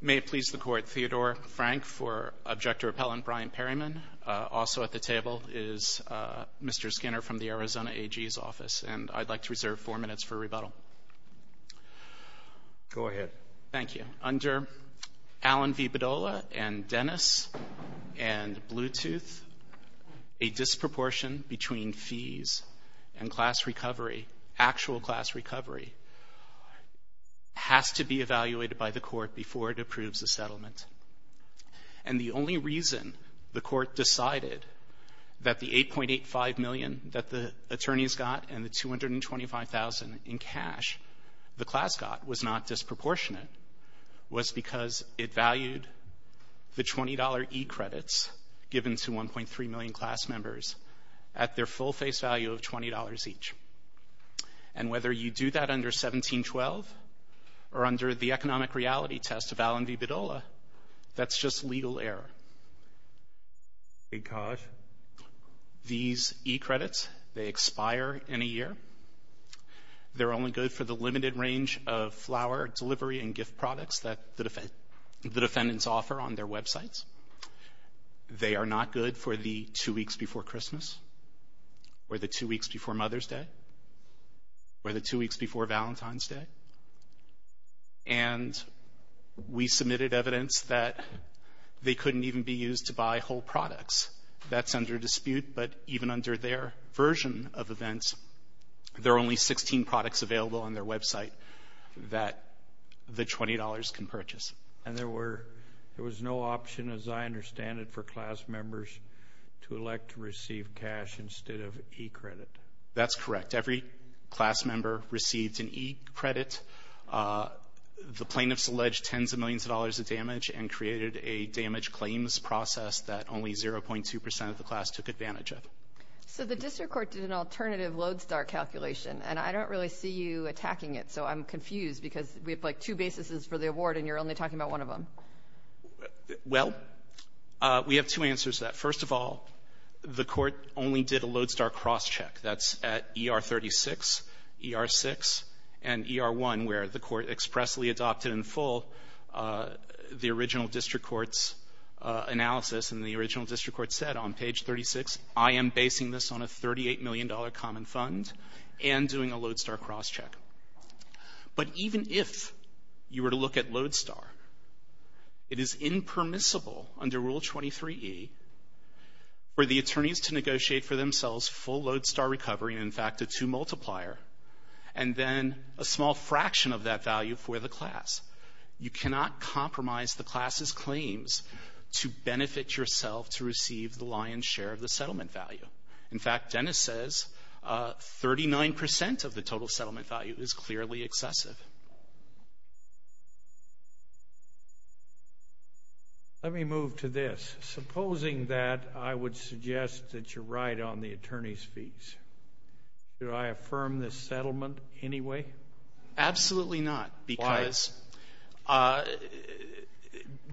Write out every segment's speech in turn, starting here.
May it please the Court, Theodore Frank for Objector Appellant Brian Perryman. Also at the table is Mr. Skinner from the Arizona AG's office. And I'd like to reserve four minutes for rebuttal. Go ahead. Thank you. Under Allen v. Bedolla and Dennis and Bluetooth, a disproportion between fees and class recovery, actual class recovery, has to be evaluated by the Court before it approves the settlement. And the only reason the Court decided that the $8.85 million that the attorneys got and the $225,000 in cash the class got was not disproportionate, was because it valued the $20 e-credits given to 1.3 million class members at their full face value of $20 each. And whether you do that under 1712 or under the economic reality test of Allen v. Bedolla, that's just legal error. Because? These e-credits, they expire in a year. They're only good for the limited range of flower delivery and gift products that the defendants offer on their websites. They are not good for the two weeks before Christmas or the two weeks before Mother's Day or the two weeks before Valentine's Day. And we submitted evidence that they couldn't even be used to buy whole products. That's under dispute. But even under their version of events, there are only 16 products available on their website that the $20 can purchase. And there was no option, as I understand it, for class members to elect to receive cash instead of e-credit. That's correct. Every class member received an e-credit. The plaintiffs alleged tens of millions of dollars of damage and created a damage claims process that only 0.2 percent of the class took advantage of. So the district court did an alternative Lodestar calculation, and I don't really see you attacking it, so I'm confused because we have, like, two bases for the award, and you're only talking about one of them. Well, we have two answers to that. First of all, the court only did a Lodestar cross-check. That's at ER 36, ER 6, and ER 1, where the court expressly adopted in full the original district court's analysis, and the original district court said on page 36, I am basing this on a $38 million common fund and doing a Lodestar cross-check. But even if you were to look at Lodestar, it is impermissible under Rule 23e for the attorneys to negotiate for themselves full Lodestar recovery and, in fact, a two multiplier, and then a small fraction of that value for the class. You cannot compromise the class's claims to benefit yourself to receive the lion's share of the settlement value. In fact, Dennis says 39% of the total settlement value is clearly excessive. Let me move to this. Supposing that I would suggest that you're right on the attorney's fees, do I affirm this settlement anyway? Absolutely not. Why?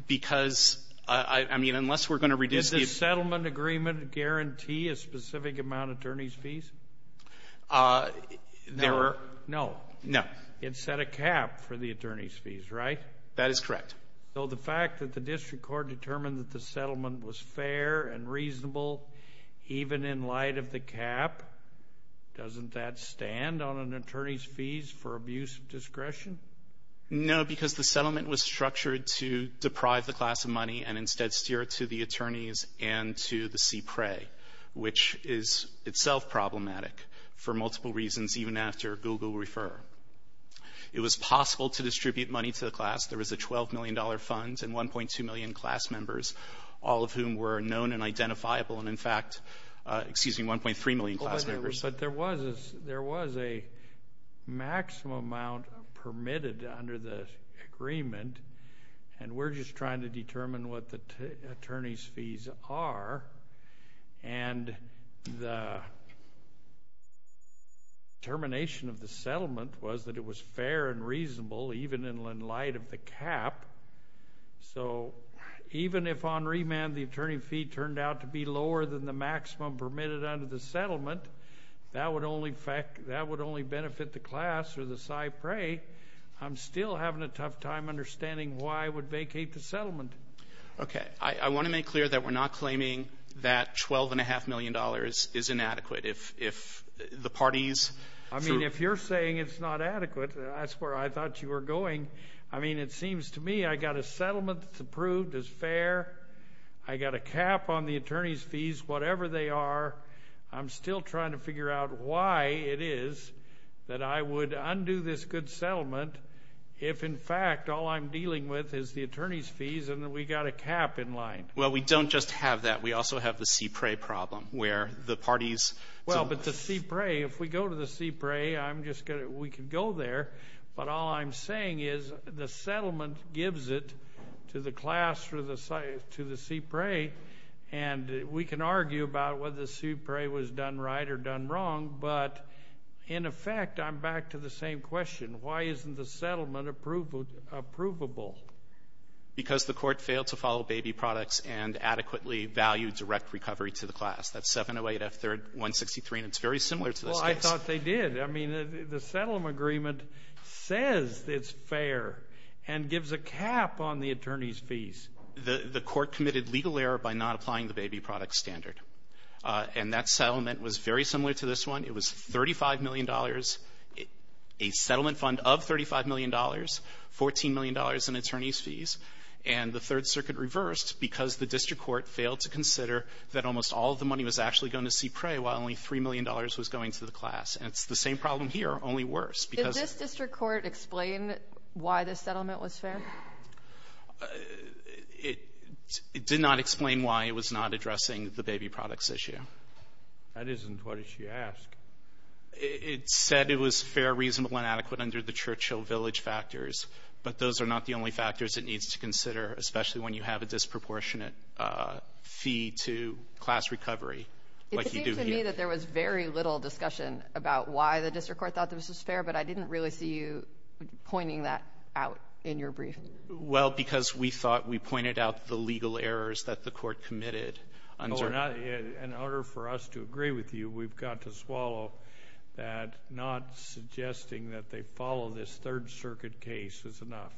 Because, I mean, unless we're going to reduce the ---- Does this settlement agreement guarantee a specific amount of attorney's fees? No. No. No. It set a cap for the attorney's fees, right? That is correct. So the fact that the district court determined that the settlement was fair and reasonable even in light of the cap, doesn't that stand on an attorney's fees for abuse of discretion? No, because the settlement was structured to deprive the class of money and instead steer it to the attorneys and to the CPRA, which is itself problematic for multiple reasons, even after Google Refer. It was possible to distribute money to the class. There was a $12 million fund and 1.2 million class members, all of whom were known and identifiable, and, in fact, 1.3 million class members. But there was a maximum amount permitted under the agreement, and we're just trying to determine what the attorney's fees are, and the determination of the settlement was that it was fair and reasonable even in light of the cap. So even if on remand the attorney fee turned out to be lower than the maximum permitted under the settlement, that would only benefit the class or the CPRA. I'm still having a tough time understanding why I would vacate the settlement. Okay. I want to make clear that we're not claiming that $12.5 million is inadequate. If the parties. I mean, if you're saying it's not adequate, that's where I thought you were going. I mean, it seems to me I got a settlement that's approved as fair. I got a cap on the attorney's fees, whatever they are. I'm still trying to figure out why it is that I would undo this good settlement if, in fact, all I'm dealing with is the attorney's fees and we got a cap in line. Well, we don't just have that. We also have the CPRA problem where the parties. Well, but the CPRA, if we go to the CPRA, we could go there. But all I'm saying is the settlement gives it to the class or to the CPRA, and we can argue about whether the CPRA was done right or done wrong. But, in effect, I'm back to the same question. Why isn't the settlement approvable? Because the court failed to follow baby products and adequately valued direct recovery to the class. That's 708F163, and it's very similar to this case. Well, I thought they did. I mean, the settlement agreement says it's fair and gives a cap on the attorney's fees. The court committed legal error by not applying the baby product standard, and that settlement was very similar to this one. It was $35 million, a settlement fund of $35 million, $14 million in attorney's fees, and the Third Circuit reversed because the district court failed to consider that almost all of the money was actually going to CPRA while only $3 million was going to the class. And it's the same problem here, only worse, because Does this district court explain why this settlement was fair? It did not explain why it was not addressing the baby products issue. That isn't what she asked. It said it was fair, reasonable, and adequate under the Churchill Village factors, but those are not the only factors it needs to consider, especially when you have a disproportionate fee to class recovery like you do here. I see that there was very little discussion about why the district court thought this was fair, but I didn't really see you pointing that out in your brief. Well, because we thought we pointed out the legal errors that the court committed. In order for us to agree with you, we've got to swallow that not suggesting that they follow this Third Circuit case is enough.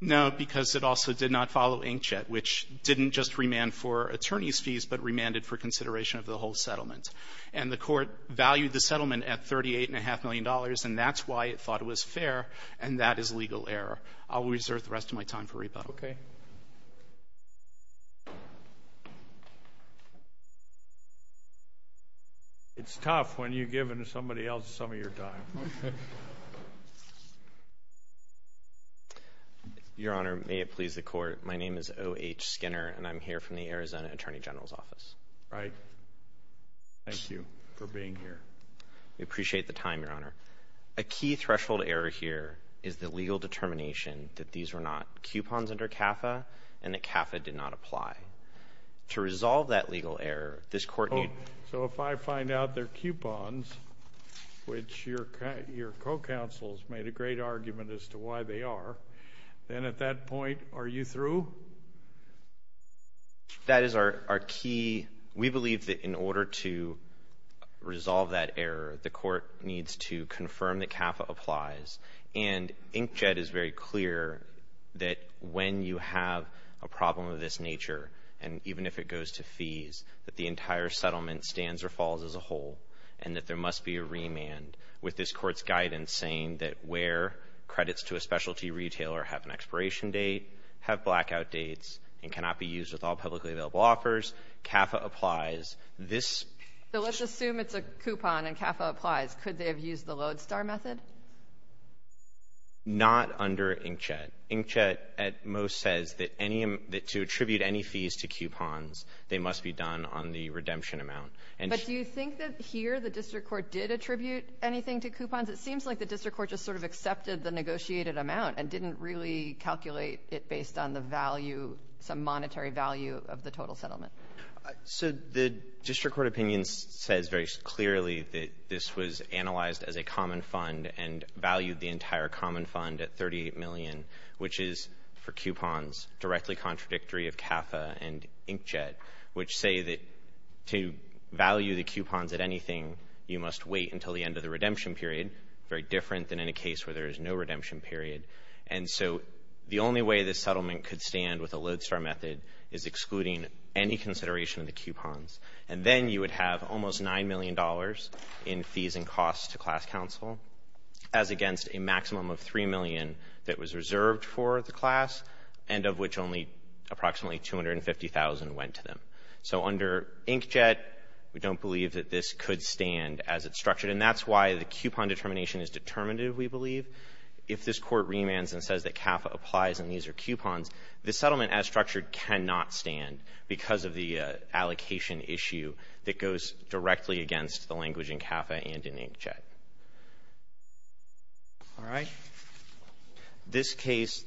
No, because it also did not follow inkjet, which didn't just remand for attorney's fees but remanded for consideration of the whole settlement. And the court valued the settlement at $38.5 million, and that's why it thought it was fair, and that is legal error. I'll reserve the rest of my time for rebuttal. Okay. It's tough when you give somebody else some of your time. Your Honor, may it please the Court, my name is O.H. Skinner, and I'm here from the Arizona Attorney General's Office. All right. Thank you for being here. We appreciate the time, Your Honor. A key threshold error here is the legal determination that these were not coupons under CAFA and that CAFA did not apply. To resolve that legal error, this court needed to find out their coupons, which your co-counsels made a great argument as to why they are. All right. Then at that point, are you through? That is our key. We believe that in order to resolve that error, the court needs to confirm that CAFA applies. And inkjet is very clear that when you have a problem of this nature, and even if it goes to fees, that the entire settlement stands or falls as a whole and that there must be a remand, with this Court's guidance saying that where credits to a specialty retailer have an expiration date, have blackout dates, and cannot be used with all publicly available offers, CAFA applies. This ---- So let's assume it's a coupon and CAFA applies. Could they have used the Lodestar method? Not under inkjet. Inkjet at most says that any of the ---- to attribute any fees to coupons, they must be done on the redemption amount. But do you think that here the district court did attribute anything to coupons? It seems like the district court just sort of accepted the negotiated amount and didn't really calculate it based on the value, some monetary value of the total settlement. So the district court opinion says very clearly that this was analyzed as a common fund and valued the entire common fund at 38 million, which is, for coupons, directly contradictory of CAFA and inkjet, which say that to value the coupons at anything, you must wait until the end of the redemption period, very different than in a case where there is no redemption period. And so the only way this settlement could stand with a Lodestar method is excluding any consideration of the coupons. And then you would have almost $9 million in fees and costs to class counsel as well, which only approximately 250,000 went to them. So under Inkjet, we don't believe that this could stand as it's structured. And that's why the coupon determination is determinative, we believe. If this Court remands and says that CAFA applies and these are coupons, the settlement as structured cannot stand because of the allocation issue that goes directly against the language in CAFA and in Inkjet. All right. This case,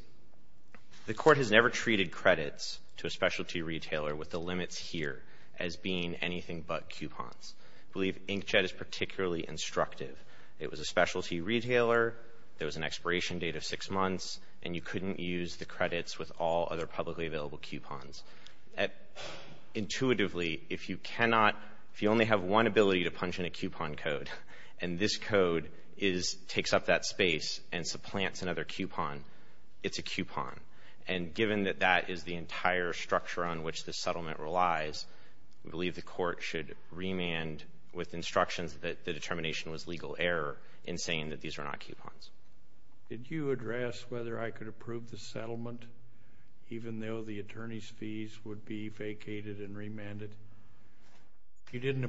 the Court has never treated credits to a specialty retailer with the limits here as being anything but coupons. I believe Inkjet is particularly instructive. It was a specialty retailer. There was an expiration date of six months. And you couldn't use the credits with all other publicly available coupons. Intuitively, if you cannot, if you only have one ability to punch in a coupon code and this code takes up that space and supplants another coupon, it's a coupon. And given that that is the entire structure on which the settlement relies, we believe the Court should remand with instructions that the determination was legal error in saying that these are not coupons. Did you address whether I could approve the settlement even though the attorney's fees would be vacated and remanded? You didn't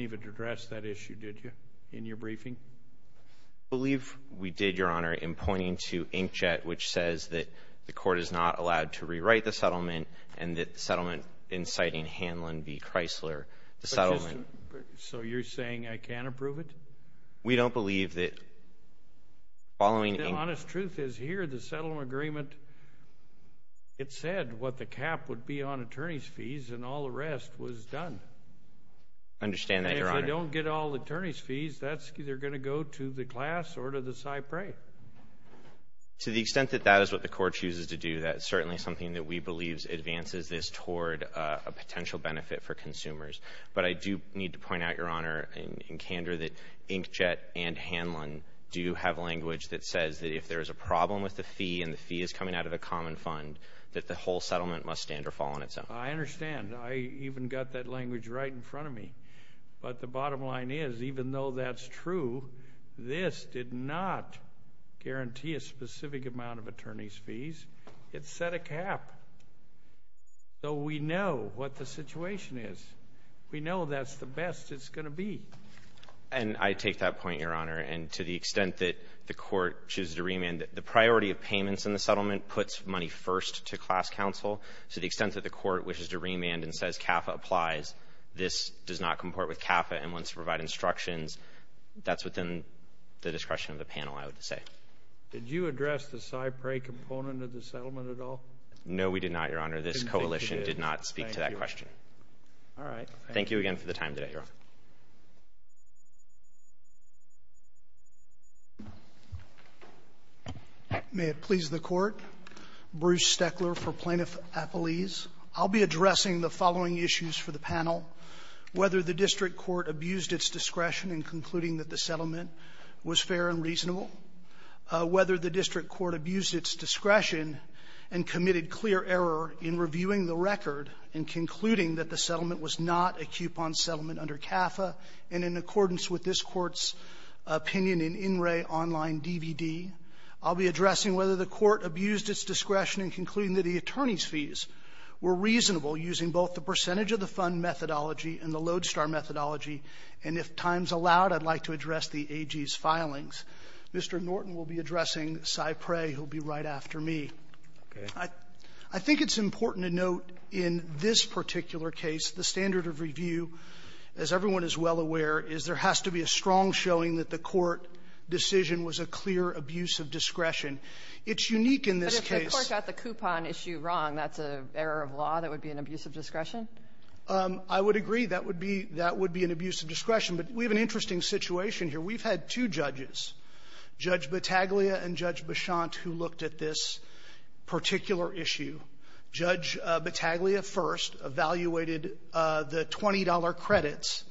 even address that issue, did you, in your briefing? I believe we did, Your Honor, in pointing to Inkjet, which says that the Court is not allowed to rewrite the settlement and that the settlement inciting Hanlon v. Chrysler, the settlement. So you're saying I can't approve it? We don't believe that following Inkjet. The honest truth is here, the settlement agreement, it said what the cap would be on attorney's fees and all the rest was done. I understand that, Your Honor. And if they don't get all attorney's fees, that's either going to go to the class or to the Cypre. To the extent that that is what the Court chooses to do, that is certainly something that we believe advances this toward a potential benefit for consumers. But I do need to point out, Your Honor, in candor that Inkjet and Hanlon do have a language that says that if there is a problem with the fee and the fee is coming out of a common fund, that the whole settlement must stand or fall on its own. I understand. I even got that language right in front of me. But the bottom line is, even though that's true, this did not guarantee a specific amount of attorney's fees. It set a cap. So we know what the situation is. We know that's the best it's going to be. And I take that point, Your Honor. And to the extent that the Court chooses to remand, the priority of payments in the settlement puts money first to class counsel. To the extent that the Court wishes to remand and says CAFA applies, this does not comport with CAFA and wants to provide instructions. That's within the discretion of the panel, I would say. Did you address the Cypre component of the settlement at all? No, we did not, Your Honor. This coalition did not speak to that question. All right. Thank you again for the time today, Your Honor. May it please the Court. Bruce Steckler for Plaintiff Appellees. I'll be addressing the following issues for the panel, whether the district court abused its discretion in concluding that the settlement was fair and reasonable, whether the district court abused its discretion and committed clear error in reviewing the record in concluding that the settlement was not a coupon settlement under CAFA, and in accordance with this Court's opinion in In Re Online DVD. I'll be addressing whether the Court abused its discretion in concluding that the attorney's fees were reasonable using both the percentage of the fund methodology and the Lodestar methodology. And if time's allowed, I'd like to address the AG's filings. Mr. Norton will be addressing Cypre. He'll be right after me. I think it's important to note in this particular case, the standard of review, as everyone is well aware, is there has to be a strong showing that the court decision was a clear abuse of discretion. It's unique in this case. But if the Court got the coupon issue wrong, that's an error of law? That would be an abuse of discretion? I would agree. That would be an abuse of discretion. But we have an interesting situation here. We've had two judges, Judge Battaglia and Judge Beshant, who looked at this particular issue. Judge Battaglia first evaluated the $20 credits,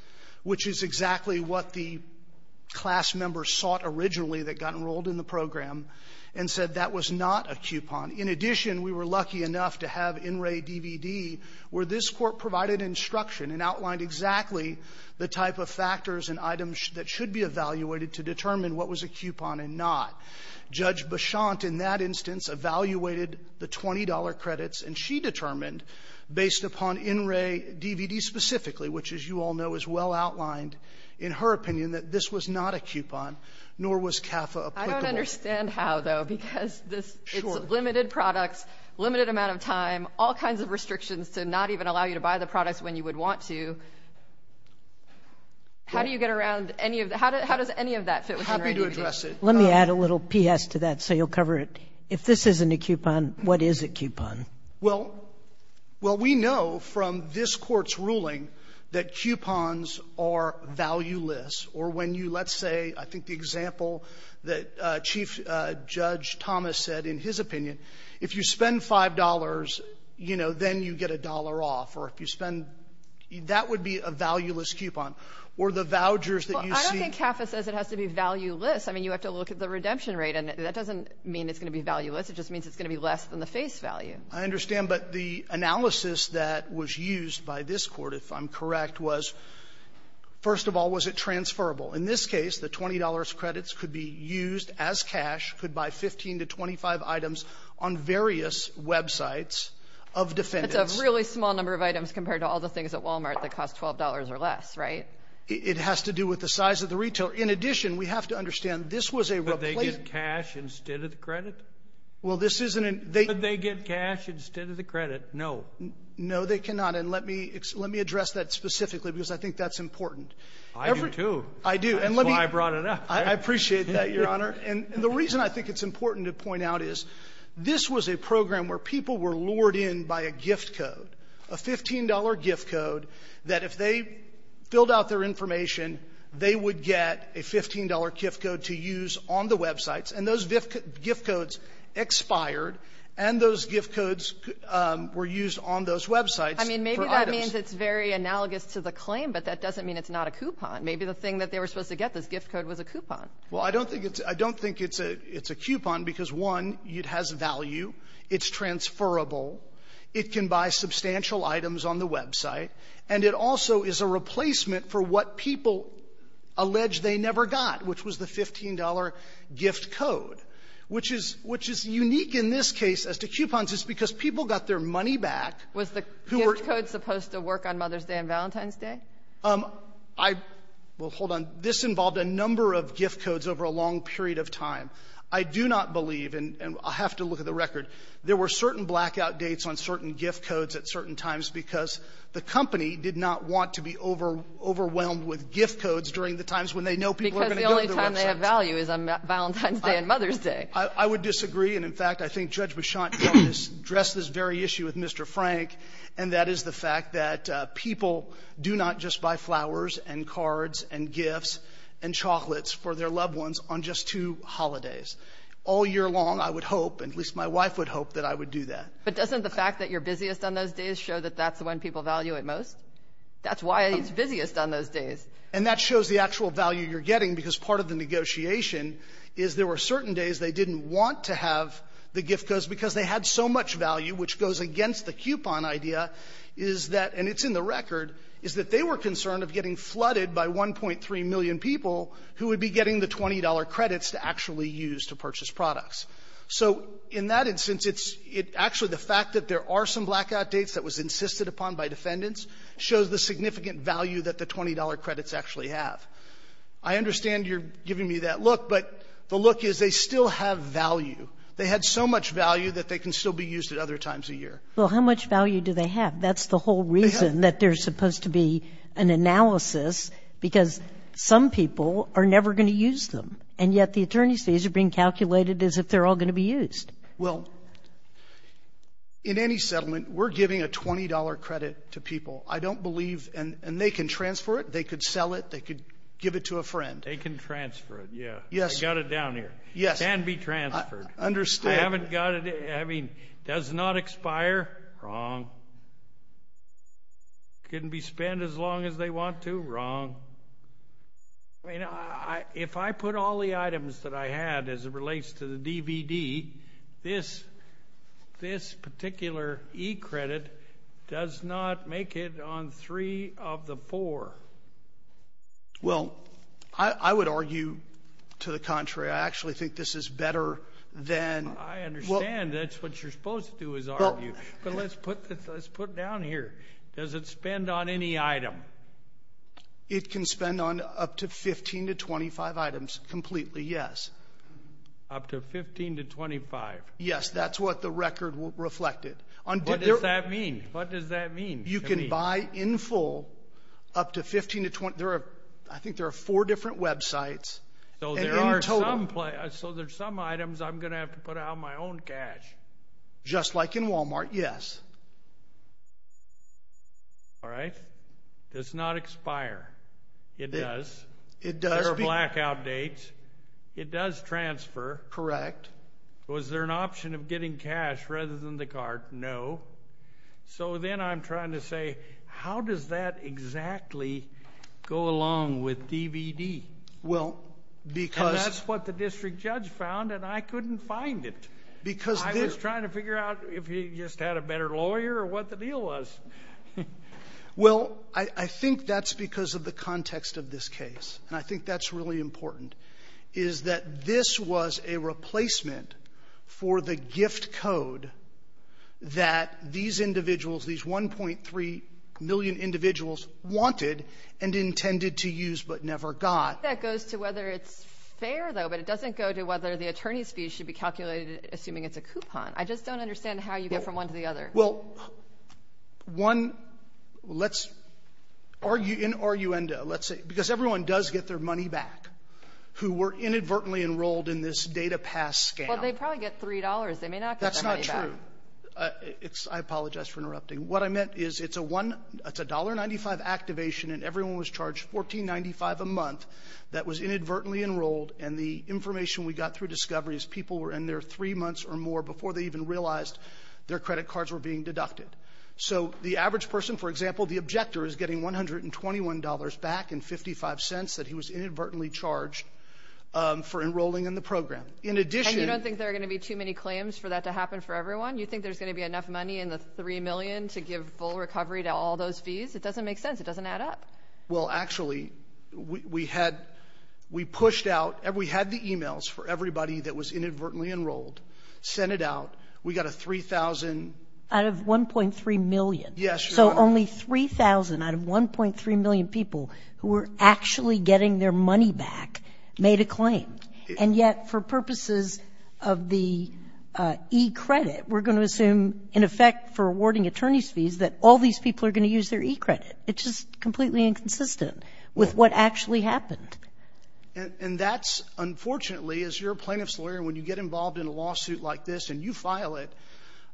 which is exactly what the class members sought originally that got enrolled in the program, and said that was not a coupon. In addition, we were lucky enough to have In Re DVD, where this Court provided instruction and outlined exactly the type of factors and items that should be evaluated to determine what was a coupon and not. Judge Beshant, in that instance, evaluated the $20 credits, and she determined, based upon In Re DVD specifically, which, as you all know, is well outlined, in her opinion, that this was not a coupon, nor was CAFA applicable. I don't understand how, though, because this is limited products, limited amount of time, all kinds of restrictions to not even allow you to buy the products when you would want to. How do you get around any of the – how does any of that fit with In Re DVD? I'm happy to address it. Let me add a little P.S. to that so you'll cover it. If this isn't a coupon, what is a coupon? Well, we know from this Court's ruling that coupons are valueless, or when you, let's say, I think the example that Chief Judge Thomas said in his opinion, if you spend $5, you know, then you get a dollar off, or if you spend – that would be a valueless coupon. Or the vouchers that you see – I mean, you have to look at the redemption rate, and that doesn't mean it's going to be valueless. It just means it's going to be less than the face value. I understand. But the analysis that was used by this Court, if I'm correct, was, first of all, was it transferable? In this case, the $20 credits could be used as cash, could buy 15 to 25 items on various websites of defendants. It's a really small number of items compared to all the things at Walmart that cost $12 or less, right? It has to do with the size of the retail. In addition, we have to understand, this was a replacement… Could they get cash instead of the credit? Well, this isn't a… Could they get cash instead of the credit? No. No, they cannot. And let me address that specifically, because I think that's important. I do, too. I do. That's why I brought it up. I appreciate that, Your Honor. And the reason I think it's important to point out is, this was a program where people were lured in by a gift code, a $15 gift code, that if they filled out their $15 gift code to use on the websites, and those gift codes expired, and those gift codes were used on those websites for items. I mean, maybe that means it's very analogous to the claim, but that doesn't mean it's not a coupon. Maybe the thing that they were supposed to get, this gift code, was a coupon. Well, I don't think it's… I don't think it's a coupon, because, one, it has value. It's transferable. It can buy substantial items on the website. And it also is a replacement for what people allege they never got, which was the $15 gift code, which is… which is unique in this case as to coupons. It's because people got their money back who were… Was the gift code supposed to work on Mother's Day and Valentine's Day? I… well, hold on. This involved a number of gift codes over a long period of time. I do not believe, and I have to look at the record, there were certain blackout dates on certain gift codes at certain times because the company did not want to be overwhelmed with gift codes during the times when they know people are going to go to the website. Because the only time they have value is on Valentine's Day and Mother's Day. I would disagree. And, in fact, I think Judge Beshant helped us address this very issue with Mr. Frank, and that is the fact that people do not just buy flowers and cards and gifts and chocolates for their loved ones on just two holidays. All year long, I would hope, at least my wife would hope, that I would do that. But doesn't the fact that you're busiest on those days show that that's when people value it most? That's why it's busiest on those days. And that shows the actual value you're getting, because part of the negotiation is there were certain days they didn't want to have the gift codes because they had so much value, which goes against the coupon idea, is that, and it's in the record, is that they were concerned of getting flooded by 1.3 million people who would be getting the $20 credits to actually use to purchase products. So in that instance, it's actually the fact that there are some blackout dates that was insisted upon by defendants shows the significant value that the $20 credits actually have. I understand you're giving me that look, but the look is they still have value. They had so much value that they can still be used at other times a year. Well, how much value do they have? That's the whole reason that there's supposed to be an analysis, because some people are never going to use them. And yet the attorney's fees are being calculated as if they're all going to be used. Well, in any settlement, we're giving a $20 credit to people. I don't believe, and they can transfer it, they could sell it, they could give it to a friend. They can transfer it, yeah. Yes. I got it down here. Yes. It can be transferred. I understand. I haven't got it. I mean, does not expire, wrong. Couldn't be spent as long as they This particular e-credit does not make it on three of the four. Well, I would argue to the contrary. I actually think this is better than... I understand that's what you're supposed to do is argue, but let's put it down here. Does it spend on any item? It can spend on up to 15 to 25 items completely, yes. Up to 15 to 25? Yes, that's what the record reflected. What does that mean? What does that mean? You can buy in full up to 15 to 20. I think there are four different websites. So there are some items I'm going to have to put out my own cash? Just like in Walmart, yes. All right. Does not expire. It does. It does. There are blackout dates. It does transfer. Correct. Was there an option of getting cash rather than the card? No. So then I'm trying to say, how does that exactly go along with DVD? Well, because... That's what the district judge found, and I couldn't find it. Because this... I was trying to figure out if he just had a better lawyer or what the deal was. Well, I think that's because of the context of this case. And I think that's really important, is that this was a replacement for the gift code that these individuals, these 1.3 million individuals wanted and intended to use but never got. That goes to whether it's fair, though, but it doesn't go to whether the attorney's fee should be calculated assuming it's a coupon. I just don't understand how you get from one to the other. Well, one, let's argue in arguendo, let's say, because everyone does get their money back who were inadvertently enrolled in this data pass scam. Well, they probably get $3. They may not get their money back. That's not true. I apologize for interrupting. What I meant is it's a $1.95 activation, and everyone was charged $14.95 a month that was inadvertently enrolled. And the information we got through Discovery is people were in there three months or more before they even realized their credit cards were being deducted. So the average person, for example, the objector, is getting $121 back and $0.55 that he was inadvertently charged for enrolling in the program. In addition — And you don't think there are going to be too many claims for that to happen for everyone? You think there's going to be enough money in the $3 million to give full recovery to all those fees? It doesn't make sense. It doesn't add up. Well, actually, we had — we pushed out — we had the e-mails for everybody that was inadvertently enrolled, sent it out. We got a 3,000 — Out of 1.3 million. Yes. So only 3,000 out of 1.3 million people who were actually getting their money back made a claim. And yet, for purposes of the e-credit, we're going to assume, in effect, for awarding attorneys' fees, that all these people are going to use their e-credit. It's just completely inconsistent with what actually happened. And that's — unfortunately, as your plaintiff's lawyer, when you get involved in a lawsuit like this and you file it,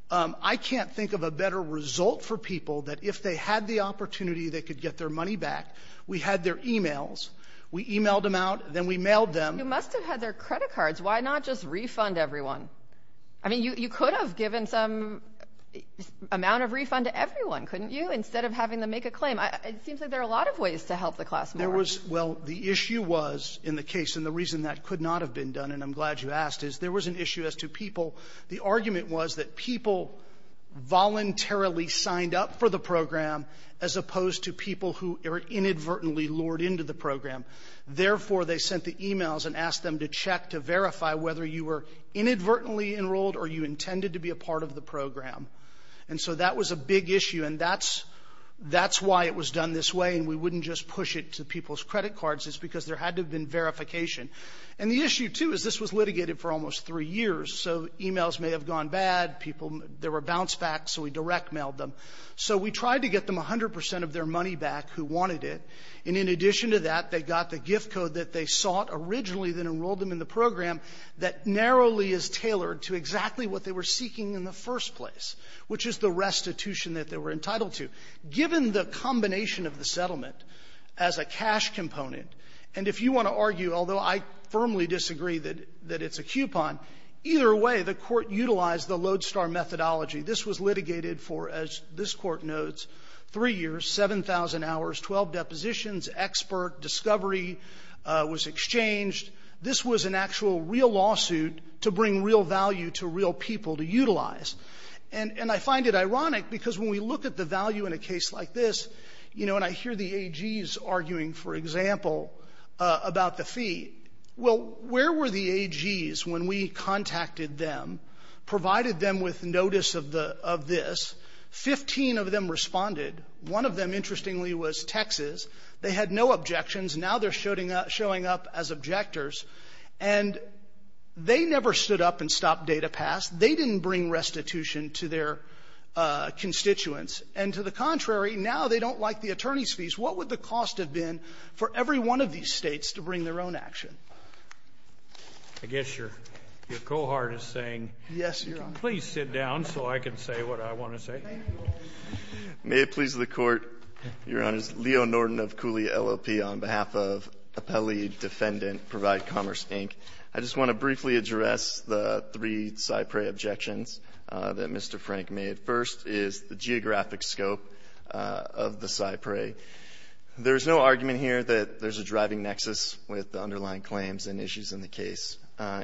I can't think of a better result for people that if they had the opportunity, they could get their money back. We had their e-mails. We e-mailed them out. Then we mailed them. You must have had their credit cards. Why not just refund everyone? I mean, you could have given some amount of refund to everyone, couldn't you, instead of having them make a claim? It seems like there are a lot of ways to help the class more. Well, the issue was, in the case — and the reason that could not have been done, and I'm glad you asked, is there was an issue as to people — the argument was that people voluntarily signed up for the program as opposed to people who inadvertently lured into the program. Therefore, they sent the e-mails and asked them to check to verify whether you were inadvertently enrolled or you intended to be a part of the program. And so that was a big issue. And that's — that's why it was done this way. And we wouldn't just push it to people's credit cards. It's because there had to have been verification. And the issue, too, is this was litigated for almost three years. So e-mails may have gone bad. People — there were bounce-backs, so we direct-mailed them. So we tried to get them 100 percent of their money back who wanted it. And in addition to that, they got the gift code that they sought originally, then enrolled them in the program that narrowly is tailored to exactly what they were seeking in the first place, which is the restitution that they were entitled to. Given the combination of the settlement as a cash component, and if you want to argue, although I firmly disagree that it's a coupon, either way, the Court utilized the lodestar methodology. This was litigated for, as this Court notes, three years, 7,000 hours, 12 depositions, expert, discovery was exchanged. This was an actual real lawsuit to bring real value to real people to utilize. And I find it ironic because when we look at the value in a case like this, you know, and I hear the AGs arguing, for example, about the fee. Well, where were the AGs when we contacted them, provided them with notice of the — of this? Fifteen of them responded. One of them, interestingly, was Texas. They had no objections. Now they're showing up as objectors. And they never stood up and stopped data pass. They didn't bring restitution to their constituents. And to the contrary, now they don't like the attorney's fees. What would the cost have been for every one of these States to bring their own action? I guess your — your cohort is saying you can please sit down so I can say what I want to say. May it please the Court, Your Honors. Leo Norton of Cooley LLP on behalf of Appellee Defendant Provide Commerce, Inc. I just want to briefly address the three CyPRAE objections that Mr. Frank made. First is the geographic scope of the CyPRAE. There's no argument here that there's a driving nexus with the underlying claims and issues in the case.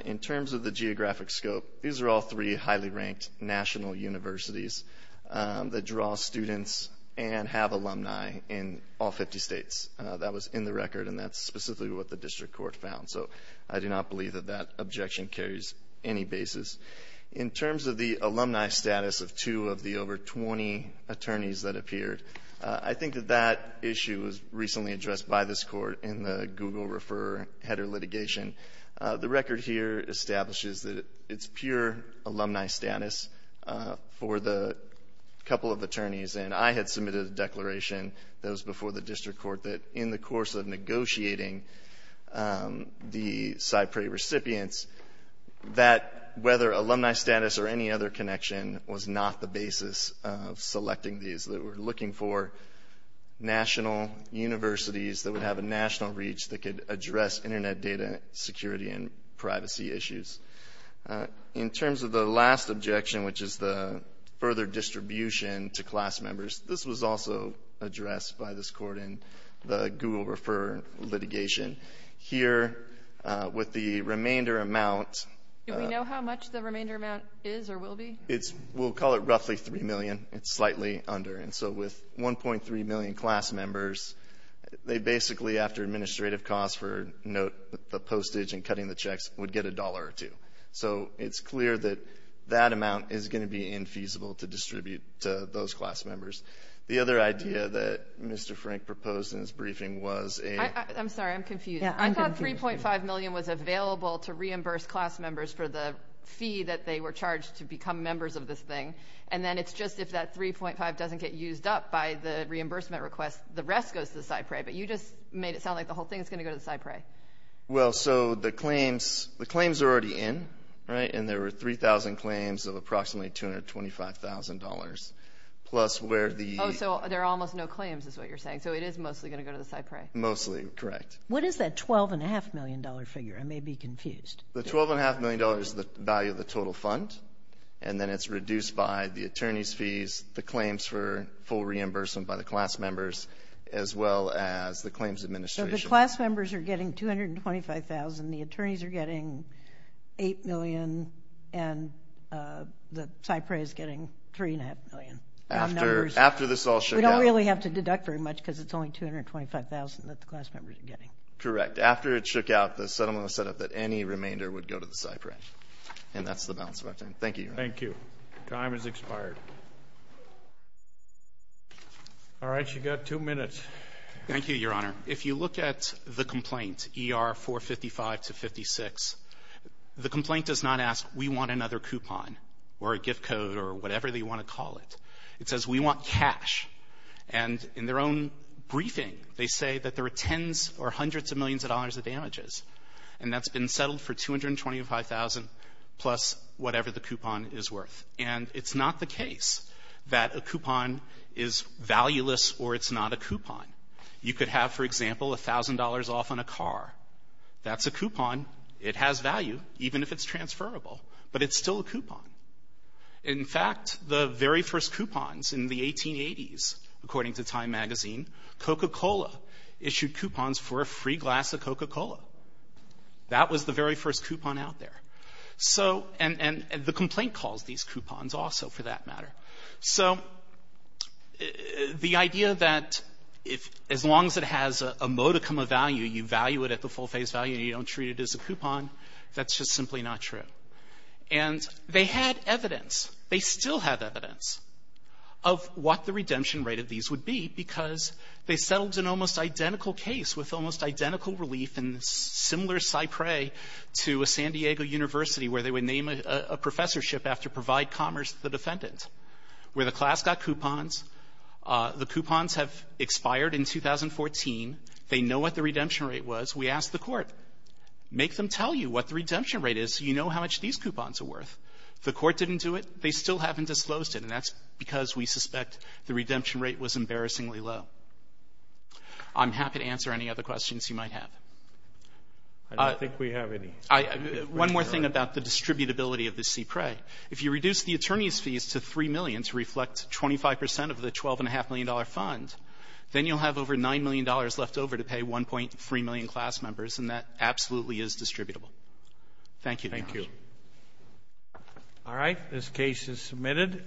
In terms of the geographic scope, these are all three highly ranked national universities that draw students and have alumni in all 50 States. That was in the record, and that's specifically what the district court found. So I do not believe that that objection carries any basis. In terms of the alumni status of two of the over 20 attorneys that appeared, I think that that issue was recently addressed by this Court in the Google Refer Header litigation. The record here establishes that it's pure alumni status for the couple of attorneys. And I had submitted a declaration that was before the district court that in the course of negotiating the CyPRAE recipients that whether alumni status or any other connection was not the basis of selecting these. They were looking for national universities that would have a national reach that could address internet data security and privacy issues. In terms of the last objection, which is the further distribution to class members, this was also addressed by this court in the Google Refer litigation. Here with the remainder amount. Do we know how much the remainder amount is or will be? It's, we'll call it roughly 3 million. It's slightly under. And so with 1.3 million class members, they basically, after administrative costs for note the postage and cutting the checks, would get a dollar or two. So it's clear that that amount is going to be infeasible to distribute to those class members. The other idea that Mr. Frank proposed in his briefing was a. I'm sorry, I'm confused. I thought 3.5 million was available to reimburse class members for the fee that they were charged to become members of this thing. And then it's just if that 3.5 doesn't get used up by the reimbursement request, the rest goes to the CyPRAE. But you just made it sound like the whole thing is going to go to the CyPRAE. Well, so the claims, the claims are already in, right? And there were 3,000 claims of approximately $225,000 plus where the. Oh, so there are almost no claims is what you're saying. So it is mostly going to go to the CyPRAE. Mostly correct. What is that $12.5 million figure? I may be confused. The $12.5 million is the value of the total fund. And then it's reduced by the attorney's fees, the claims for full reimbursement by the class members, as well as the claims administration. The class members are getting $225,000. The attorneys are getting $8 million. And the CyPRAE is getting $3.5 million. After this all shook out. We don't really have to deduct very much because it's only $225,000 that the class members are getting. Correct. After it shook out, the settlement was set up that any remainder would go to the CyPRAE. And that's the balance of our time. Thank you, Your Honor. Thank you. Time has expired. All right, you've got two minutes. Thank you, Your Honor. If you look at the complaint, ER-455-56, the complaint does not ask, we want another coupon or a gift code or whatever they want to call it. It says, we want cash. And in their own briefing, they say that there are tens or hundreds of millions of dollars of damages. And that's been settled for $225,000 plus whatever the coupon is worth. And it's not the case that a coupon is valueless or it's not a coupon. You could have, for example, $1,000 off on a car. That's a coupon. It has value even if it's transferable, but it's still a coupon. In fact, the very first coupons in the 1880s, according to Time magazine, Coca-Cola issued coupons for a free glass of Coca-Cola. That was the very first coupon out there. So, and the complaint calls these coupons also for that matter. So the idea that if, as long as it has a modicum of value, you value it at the full face value and you don't treat it as a coupon, that's just simply not true. And they had evidence, they still have evidence, of what the redemption rate of these would be because they settled an almost identical case with almost identical relief in similar Cypre to a San Diego university where they would name a professorship after Provide Commerce, the defendant, where the class got coupons. The coupons have expired in 2014. They know what the redemption rate was. We asked the court, make them tell you what the redemption rate is so you know how much these coupons are worth. The court didn't do it. They still haven't disclosed it, and that's because we suspect the redemption rate was embarrassingly low. I'm happy to answer any other questions you might have. I don't think we have any. One more thing about the distributability of the Cypre. If you reduce the attorney's fees to $3 million to reflect 25 percent of the $12.5 million fund, then you'll have over $9 million left over to pay 1.3 million class members, and that absolutely is distributable. Thank you, Your Honor. Thank you. All right. This case is submitted.